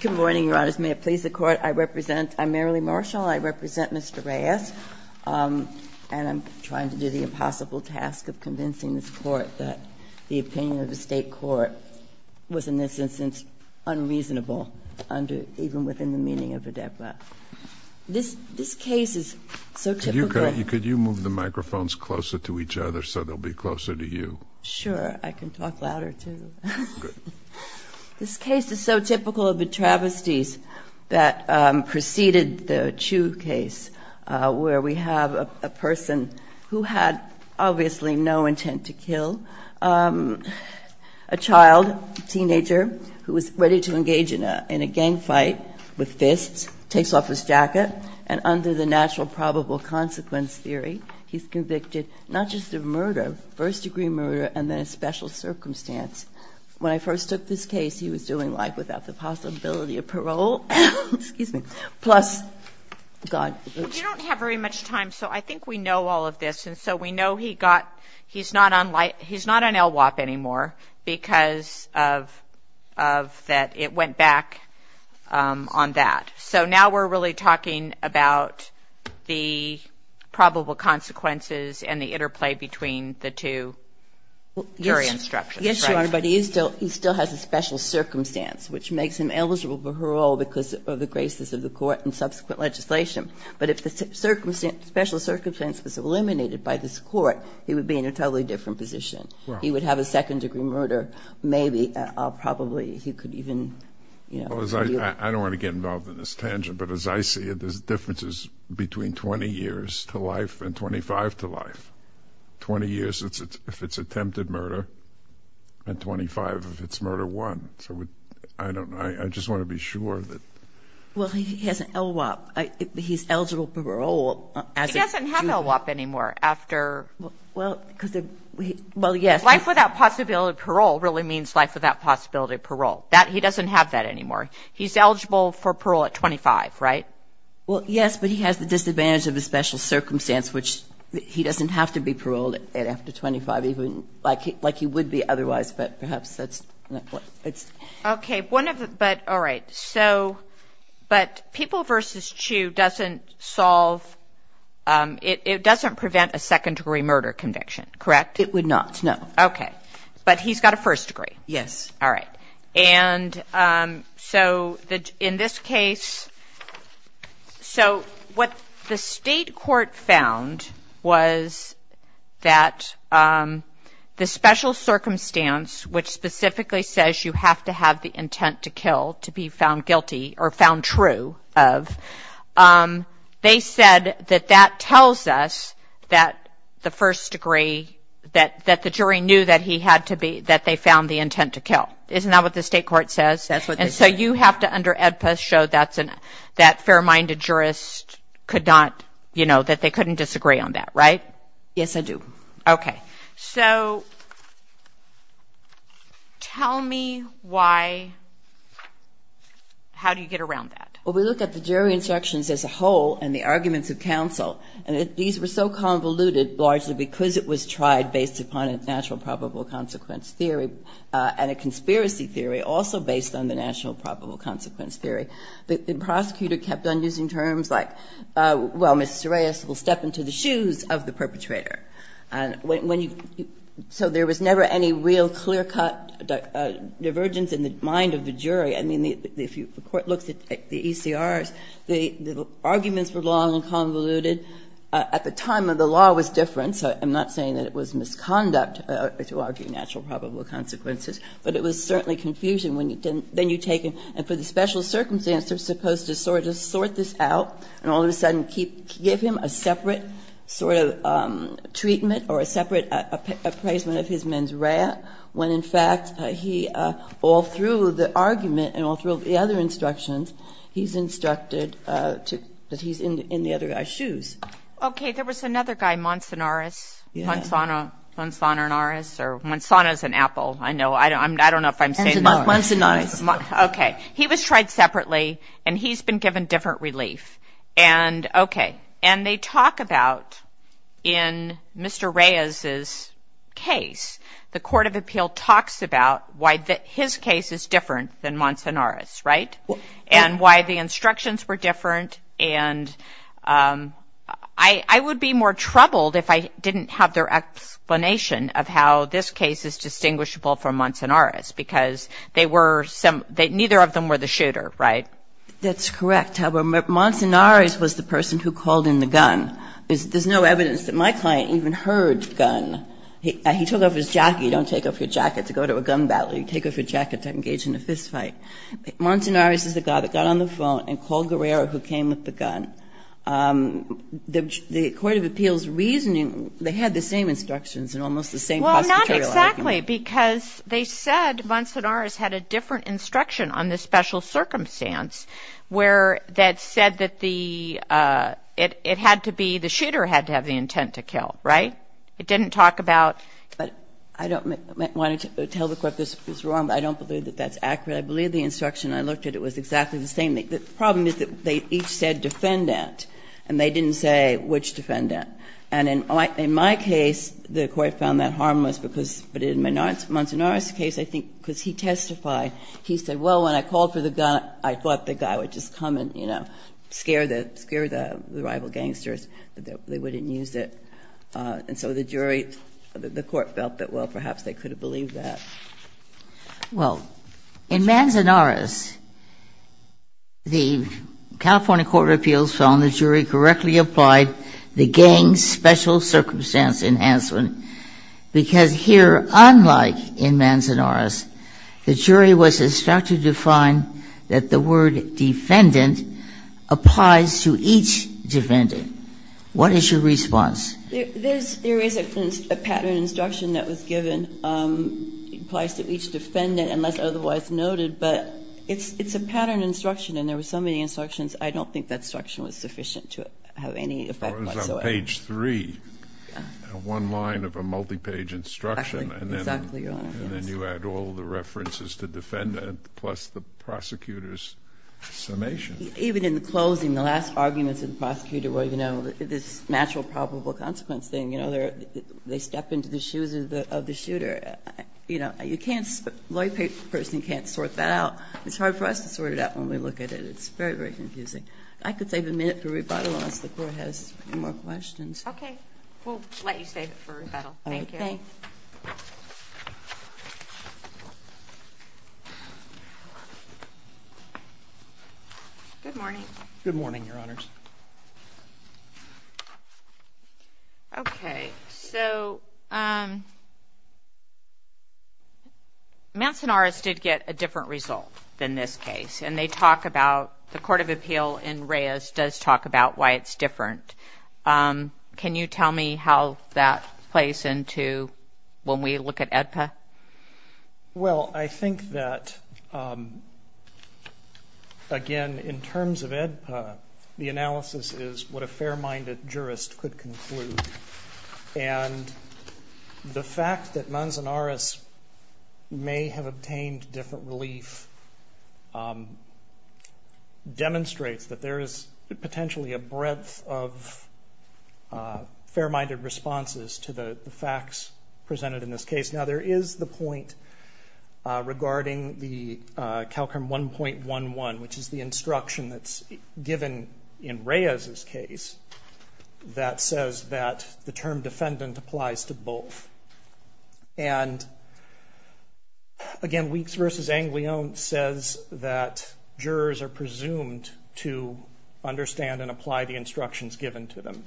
Good morning, Your Honors. May it please the Court, I represent, I'm Marilee Marshall, I represent Mr. Reyes, and I'm trying to do the impossible task of convincing this Court that the opinion of the State Court was, in this instance, unreasonable under, even within the meaning of the death law. This, this case is so typical. Could you move the microphones closer to each other so they'll be closer to you? Sure, I can talk louder too. Good. This case is so typical of the travesties that preceded the Chu case, where we have a person who had obviously no intent to kill a child, teenager, who was ready to engage in a gang fight with fists, takes off his jacket, and under the natural probable consequence theory, he's convicted not just of murder, first degree murder, and then a special circumstance. When I first took this case, he was doing life without the possibility of parole. Excuse me. Plus, God. You don't have very much time, so I think we know all of this, and so we know he got, he's not on, he's not on LWOP anymore because of, of that, it went back on that. So now we're really talking about the probable consequences and the interplay between the two theory instructions. Yes, Your Honor, but he is still, he still has a special circumstance, which makes him eligible for parole because of the graces of the court and subsequent legislation. But if the circumstance, special circumstance was eliminated by this court, he would be in a totally different position. He would have a second degree murder, maybe, probably he could even, you know. I don't want to get involved in this tangent, but as I see it, there's differences between 20 years to life and 25 to life. 20 years if it's attempted murder, and 25 if it's murder one. So I don't, I just want to be sure that. Well, he has LWOP. He's eligible for parole. He doesn't have LWOP anymore after, well, because of, well, yes. Life without possibility of parole really means life without possibility of parole. That, he doesn't have that anymore. He's eligible for parole at 25, right? Well, yes, but he has the disadvantage of the special circumstance, which he doesn't have to be paroled after 25, even, like he would be otherwise. But perhaps that's not what it's. Okay. One of the, but, all right. So, but people versus Chu doesn't solve, it doesn't prevent a second degree murder conviction, correct? It would not, no. Okay. But he's got a first degree. Yes. All right. And so in this case, so what the state court found was that the special circumstance, which specifically says you have to have the intent to kill to be found guilty or found true of, they said that that tells us that the first degree, that the jury knew that he had to be, that they found the intent to kill. Isn't that what the state court says? That's what they said. And so you have to, under AEDPA, show that's an, that fair-minded jurist could not, you know, that they couldn't disagree on that, right? Yes, I do. Okay. So tell me why, how do you get around that? Well, we look at the jury instructions as a whole and the arguments of counsel, and these were so convoluted, largely because it was tried based upon a natural probable consequence theory and a conspiracy theory also based on the natural probable consequence theory, that the prosecutor kept on using terms like, well, Ms. Serais will step into the shoes of the perpetrator. And when you, so there was never any real clear-cut divergence in the mind of the jury. I mean, if the Court looks at the ECRs, the arguments were long and convoluted. At the time, the law was different, so I'm not saying that it was misconduct to argue natural probable consequences, but it was certainly confusion when you didn't then you take him, and for the special circumstances, you're supposed to sort this out, and all of a sudden give him a separate sort of treatment or a separate appraisal of his mens rea, when in fact he, all through the argument and all through the other instructions, he's instructed that he's in the other guy's shoes. Okay. There was another guy, Monsonaris. Yeah. Monsononaris, or Monsona is an apple. I know. I don't know if I'm saying that. Monsonaris. Okay. He was tried separately, and he's been given different relief. Okay. And they talk about, in Mr. Reyes's case, the Court of Appeal talks about why his case is different than Monsonaris, right, and why the instructions were different, and I would be more troubled if I didn't have their explanation of how this case is distinguishable from Monsonaris, because they were, neither of them were the shooter, right? That's correct. Monsonaris was the person who called in the gun. There's no evidence that my client even heard gun. He took off his jacket. You don't take off your jacket to go to a gun battle. You take off your jacket to engage in a fist fight. Monsonaris is the guy that got on the phone and called Guerrero, who came with the gun. The Court of Appeal's reasoning, they had the same instructions and almost the same prosecutorial argument. Well, not exactly, because they said Monsonaris had a different instruction on the special circumstance where that said that the, it had to be, the shooter had to have the intent to kill, right? It didn't talk about. I don't want to tell the Court this is wrong, but I don't believe that that's accurate. I believe the instruction I looked at, it was exactly the same. The problem is that they each said defendant, and they didn't say which defendant. And in my case, the Court found that harmless, because, but in Monsonaris' case, I think, because he testified, he said, well, when I called for the gun, I thought the guy would just come and, you know, scare the, scare the rival gangsters that they wouldn't use it. And so the jury, the Court felt that, well, perhaps they could have believed that. Well, in Monsonaris, the California Court of Appeals found the jury correctly applied the gang's special circumstance enhancement, because here, unlike in Monsonaris, the jury was instructed to find that the word defendant applies to each defendant. What is your response? There is a pattern instruction that was given, applies to each defendant unless otherwise noted. But it's a pattern instruction, and there were so many instructions, I don't think that instruction was sufficient to have any effect whatsoever. It was on page 3, one line of a multi-page instruction. Exactly. And then you add all the references to defendant plus the prosecutor's summation. Even in the closing, the last arguments of the prosecutor were, you know, this natural probable consequence thing, you know, they step into the shoes of the shooter. You know, you can't, a lawyer person can't sort that out. It's hard for us to sort it out when we look at it. It's very, very confusing. I could save a minute for rebuttal unless the Court has more questions. Okay. We'll let you save it for rebuttal. Thank you. Thank you. Thanks. Good morning. Good morning, Your Honors. Okay. So, Mancinaris did get a different result than this case, and they talk about the Court of Appeal in Reyes does talk about why it's different. Can you tell me how that plays into when we look at AEDPA? Well, I think that, again, in terms of AEDPA, the analysis is what a fair-minded jurist could conclude. And the fact that Mancinaris may have obtained different relief demonstrates that there is potentially a breadth of fair-minded responses to the facts presented in this case. Now, there is the point regarding the CALCRM 1.11, which is the instruction that's given in Reyes's case that says that the term defendant applies to both. And, again, Weeks v. Anglione says that jurors are presumed to understand and apply the instructions given to them.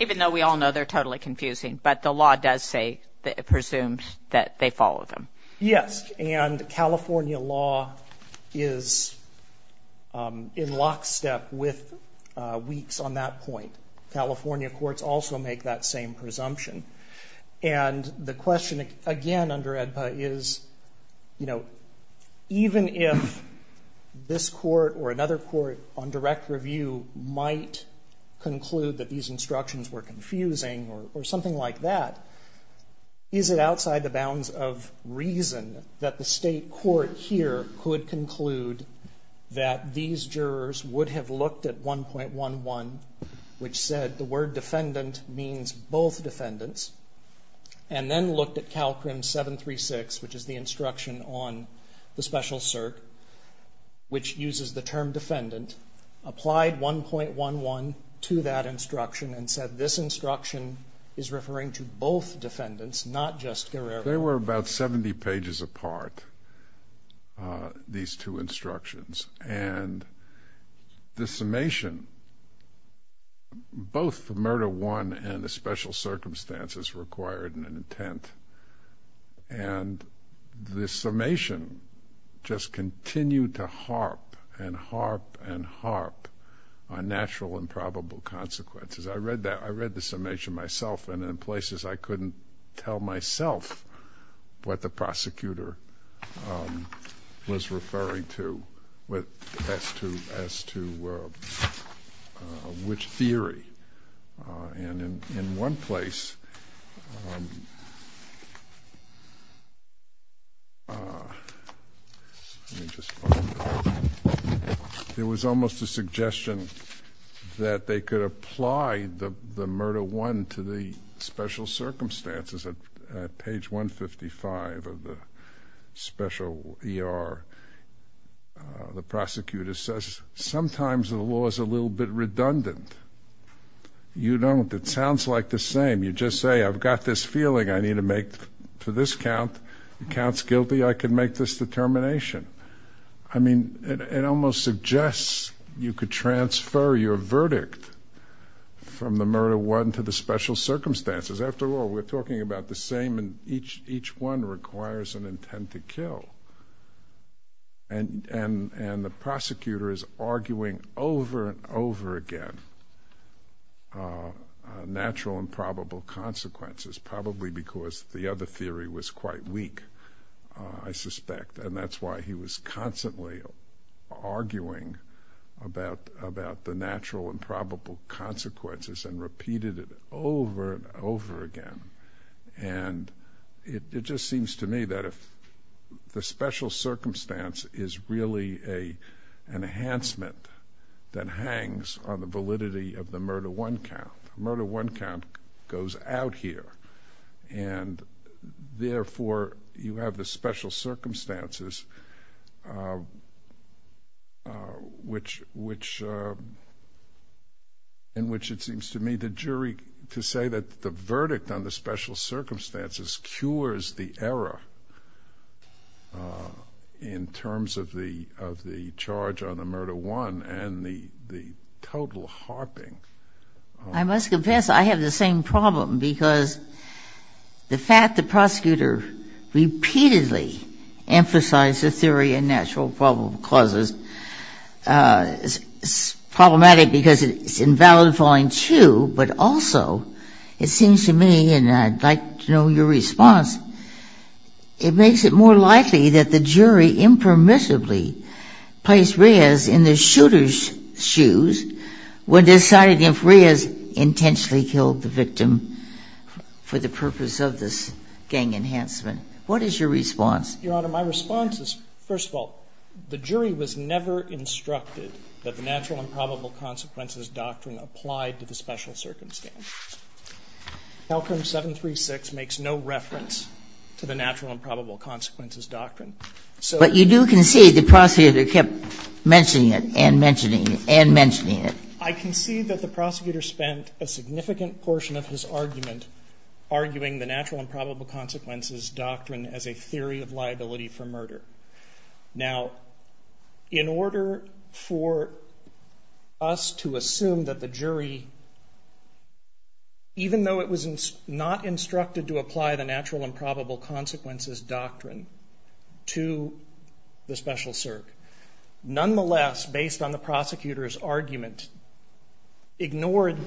Even though we all know they're totally confusing. But the law does say that it presumes that they follow them. Yes. And California law is in lockstep with Weeks on that point. California courts also make that same presumption. And the question, again, under AEDPA is, you know, even if this court or another court on direct review might conclude that these instructions were confusing or something like that, is it outside the bounds of reason that the state court here could conclude that these jurors would have looked at 1.11, which said the word defendant means both defendants, and then looked at CALCRM 736, which is the instruction on the special cert, which uses the term defendant, applied 1.11 to that instruction and said this instruction is referring to both defendants, not just Guerrero. They were about 70 pages apart, these two instructions. And the summation, both the murder one and the special circumstances required in an intent, and the summation just continued to harp and harp and harp on natural and probable consequences. I read the summation myself, and in places I couldn't tell myself what the prosecutor was referring to as to which theory. And in one place, there was almost a suggestion that they could apply the murder one to the special circumstances at page 155 of the special ER. The prosecutor says, sometimes the law is a little bit redundant. You don't. It sounds like the same. You just say, I've got this feeling I need to make to this count. If it counts guilty, I can make this determination. I mean, it almost suggests you could transfer your verdict from the murder one to the special circumstances. After all, we're talking about the same, and each one requires an intent to kill. And the prosecutor is arguing over and over again natural and probable consequences, probably because the other theory was quite weak, I suspect. And that's why he was constantly arguing about the natural and probable consequences and repeated it over and over again. And it just seems to me that if the special circumstance is really an enhancement that hangs on the validity of the murder one count, the murder one count goes out here. And, therefore, you have the special circumstances in which it seems to me the jury, to say that the verdict on the special circumstances cures the error in terms of the charge on the murder one and the total harping. I must confess, I have the same problem, because the fact the prosecutor repeatedly emphasized the theory of natural and probable causes is problematic because it's invalidifying two, but also it seems to me, and I'd like to know your response, it makes it more likely that the jury impermissibly placed Reyes in the shooter's shoes when deciding if Reyes intentionally killed the victim for the purpose of this gang enhancement. What is your response? Your Honor, my response is, first of all, the jury was never instructed that the natural and probable consequences doctrine applied to the special circumstances. Calcrim 736 makes no reference to the natural and probable consequences doctrine. But you do concede the prosecutor kept mentioning it and mentioning it and mentioning it. I concede that the prosecutor spent a significant portion of his argument arguing the natural and probable consequences doctrine as a theory of liability for murder. Now, in order for us to assume that the jury, even though it was not instructed to apply the natural and probable consequences doctrine to the special CERC, nonetheless, based on the prosecutor's argument, ignored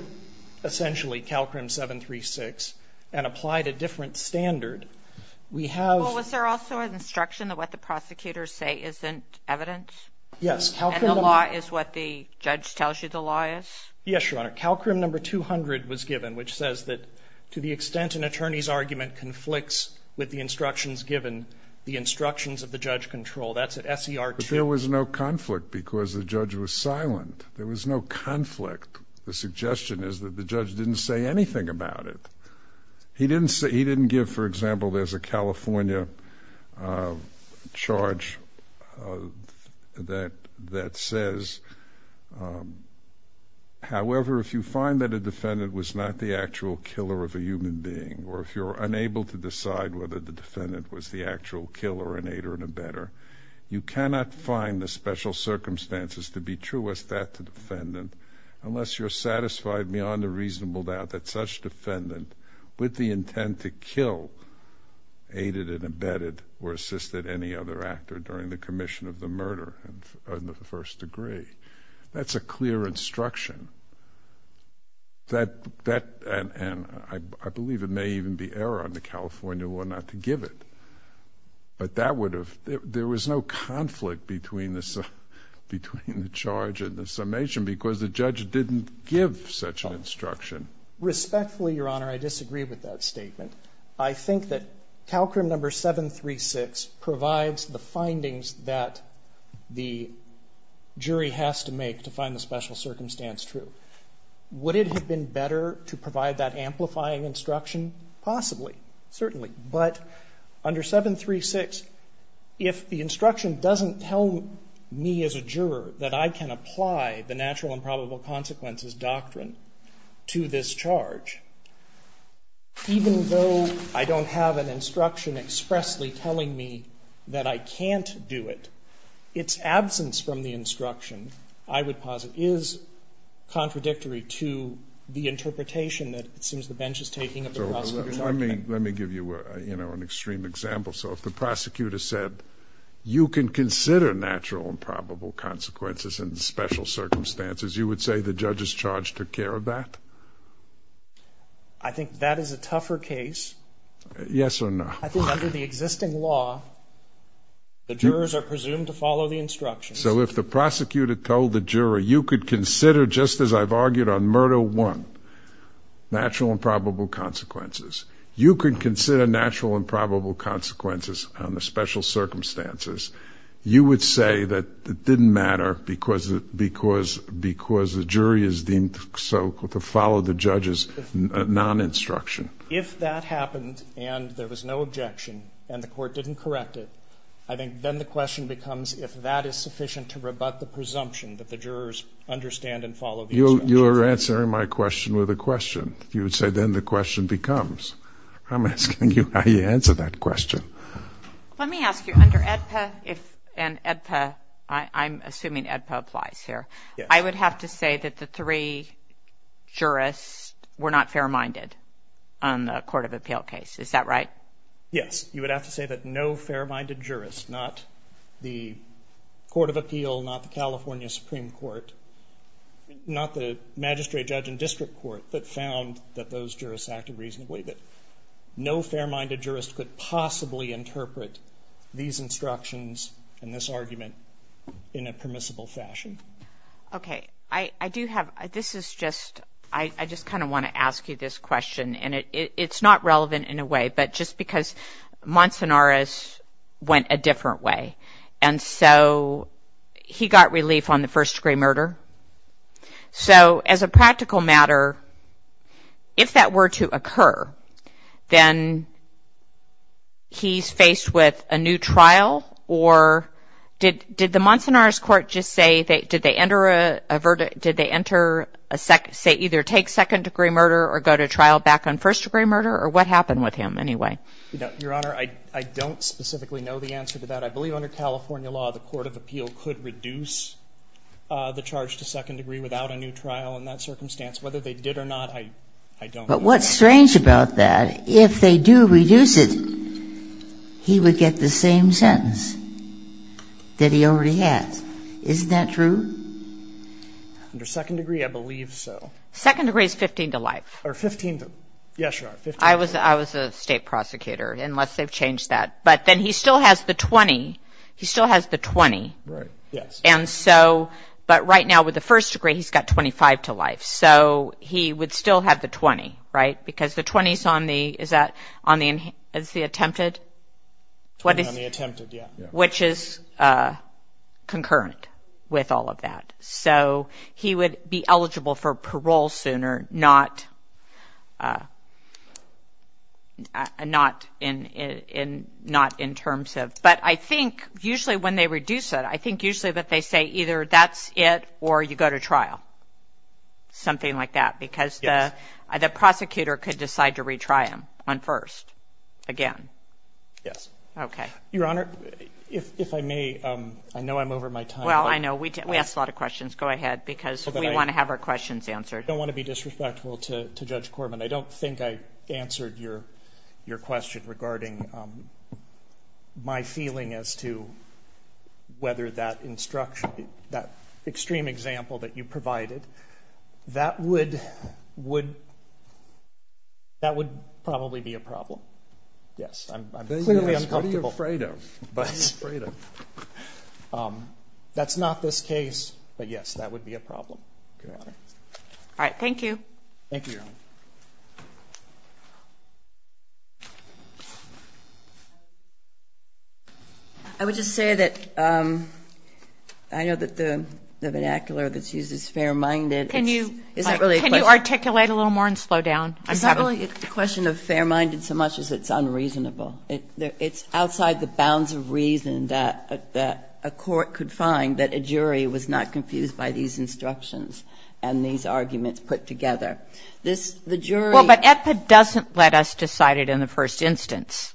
essentially Calcrim 736 and applied a different standard. Well, was there also an instruction that what the prosecutors say isn't evidence? Yes. And the law is what the judge tells you the law is? Yes, Your Honor. Calcrim number 200 was given, which says that to the extent an attorney's argument conflicts with the instructions given, the instructions of the judge control. That's at SER 2. But there was no conflict because the judge was silent. There was no conflict. The suggestion is that the judge didn't say anything about it. He didn't give, for example, there's a California charge that says, however, if you find that a defendant was not the actual killer of a human being or if you're unable to decide whether the defendant was the actual killer, an aider, and a better, you cannot find the special circumstances to be true as that to the defendant unless you're satisfied beyond a reasonable doubt that such defendant with the intent to kill aided and abetted or assisted any other actor during the commission of the murder of the first degree. That's a clear instruction. And I believe it may even be error on the California law not to give it. But that would have, there was no conflict between the charge and the summation because the judge didn't give such an instruction. Respectfully, Your Honor, I disagree with that statement. I think that Calcrim number 736 provides the findings that the jury has to make to find the special circumstance true. Would it have been better to provide that amplifying instruction? Possibly. Certainly. But under 736, if the instruction doesn't tell me as a juror that I can apply the charge, even though I don't have an instruction expressly telling me that I can't do it, its absence from the instruction, I would posit, is contradictory to the interpretation that it seems the bench is taking of the prosecutor's argument. So let me give you, you know, an extreme example. So if the prosecutor said you can consider natural and probable consequences and special circumstances, you would say the judge's charge took care of that? I think that is a tougher case. Yes or no? I think under the existing law, the jurors are presumed to follow the instructions. So if the prosecutor told the juror you could consider, just as I've argued on murder 1, natural and probable consequences, you could consider natural and probable consequences on the special circumstances, you would say that it was because the jury is deemed so to follow the judge's non-instruction. If that happened and there was no objection and the court didn't correct it, I think then the question becomes if that is sufficient to rebut the presumption that the jurors understand and follow the instructions. You are answering my question with a question. You would say then the question becomes. I'm asking you how you answer that question. Let me ask you, under AEDPA and AEDPA, I'm assuming AEDPA applies here. I would have to say that the three jurists were not fair-minded on the court of appeal case. Is that right? Yes. You would have to say that no fair-minded jurist, not the court of appeal, not the California Supreme Court, not the magistrate judge and district court that found that those jurists acted reasonably, that no fair-minded jurist could possibly interpret these instructions and this argument in a permissible fashion. Okay. I do have, this is just, I just kind of want to ask you this question and it's not relevant in a way, but just because Monsonaris went a different way and so he got relief on the first-degree murder. So as a practical matter, if that were to occur, then he's faced with a new trial or did the Monsonaris court just say, did they enter a, did they enter a, say either take second-degree murder or go to trial back on first-degree murder or what happened with him anyway? Your Honor, I don't specifically know the answer to that. I believe under California law, the court of appeal could reduce the charge to second-degree without a new trial in that circumstance. Whether they did or not, I don't know. But what's strange about that, if they do reduce it, he would get the same sentence that he already has. Isn't that true? Under second-degree, I believe so. Second-degree is 15 to life. Or 15 to, yes, Your Honor, 15 to life. I was a state prosecutor, unless they've changed that. But then he still has the 20. He still has the 20. Right, yes. And so, but right now with the first-degree, he's got 25 to life. So he would still have the 20, right? Because the 20 is on the, is that, is the attempted? On the attempted, yeah. Which is concurrent with all of that. So he would be eligible for parole sooner, not in terms of, but I think usually when they reduce it, I think usually that they say either that's it or you go to trial, something like that. Yes. Because the prosecutor could decide to retry him on first again. Yes. Okay. Your Honor, if I may, I know I'm over my time. Well, I know. We asked a lot of questions. Go ahead, because we want to have our questions answered. I don't want to be disrespectful to Judge Corbin. I don't think I answered your question regarding my feeling as to whether that instruction, that extreme example that you provided, that would probably be a problem. Yes, I'm clearly uncomfortable. Don't be afraid of. Don't be afraid of. That's not this case, but, yes, that would be a problem. All right, thank you. Thank you, Your Honor. I would just say that I know that the vernacular that's used is fair-minded. Can you articulate a little more and slow down? It's not really a question of fair-minded so much as it's unreasonable. It's outside the bounds of reason that a court could find that a jury was not confused by these instructions and these arguments put together. This, the jury. Well, but EPA doesn't let us decide it in the first instance.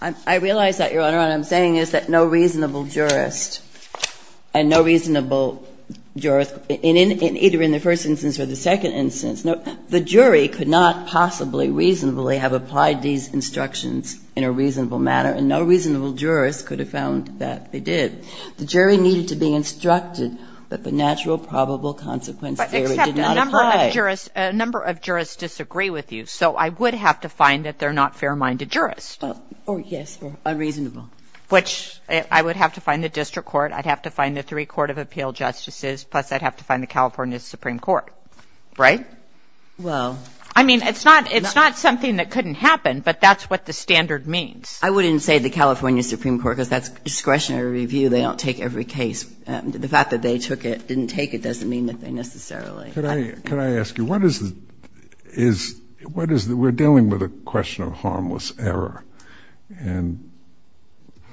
I realize that, Your Honor. What I'm saying is that no reasonable jurist and no reasonable jurist, either in the first instance or the second instance, the jury could not possibly reasonably have applied these instructions in a reasonable manner, and no reasonable jurist could have found that they did. The jury needed to be instructed that the natural probable consequence theory did not apply. Except a number of jurists disagree with you, so I would have to find that they're not fair-minded jurists. Yes, or unreasonable. Which I would have to find the district court, I'd have to find the three court of appeal justices, plus I'd have to find the California Supreme Court, right? Well. I mean, it's not something that couldn't happen, but that's what the standard means. I wouldn't say the California Supreme Court, because that's discretionary review. They don't take every case. The fact that they took it, didn't take it, doesn't mean that they necessarily. Could I ask you, what is the we're dealing with a question of harmless error, and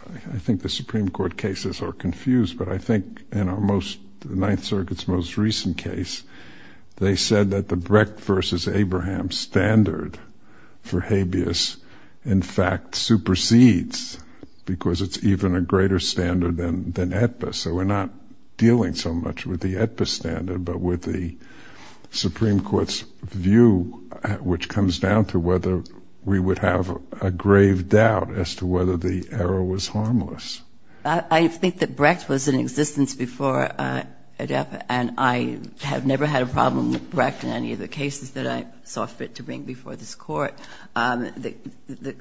I think the Supreme Court cases are confused, but I think in our most, the Ninth Circuit's most recent case, they said that the Brecht versus Abraham standard for habeas in fact supersedes, because it's even a greater standard than AEDPA, so we're not dealing so much with the AEDPA standard, but with the Supreme Court's view, which comes down to whether we would have a grave doubt as to whether the error was harmless. I think that Brecht was in existence before AEDPA, and I have never had a problem with Brecht in any of the cases that I saw fit to bring before this Court. The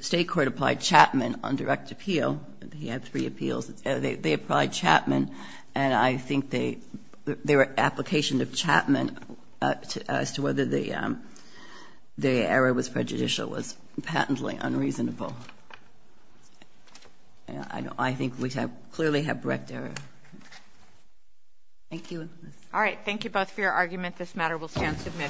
State court applied Chapman on direct appeal. He had three appeals. They applied Chapman, and I think their application of Chapman as to whether the error was prejudicial was patently unreasonable. I think we clearly have Brecht error. Thank you. All right. Thank you both for your argument. This matter will stand submitted.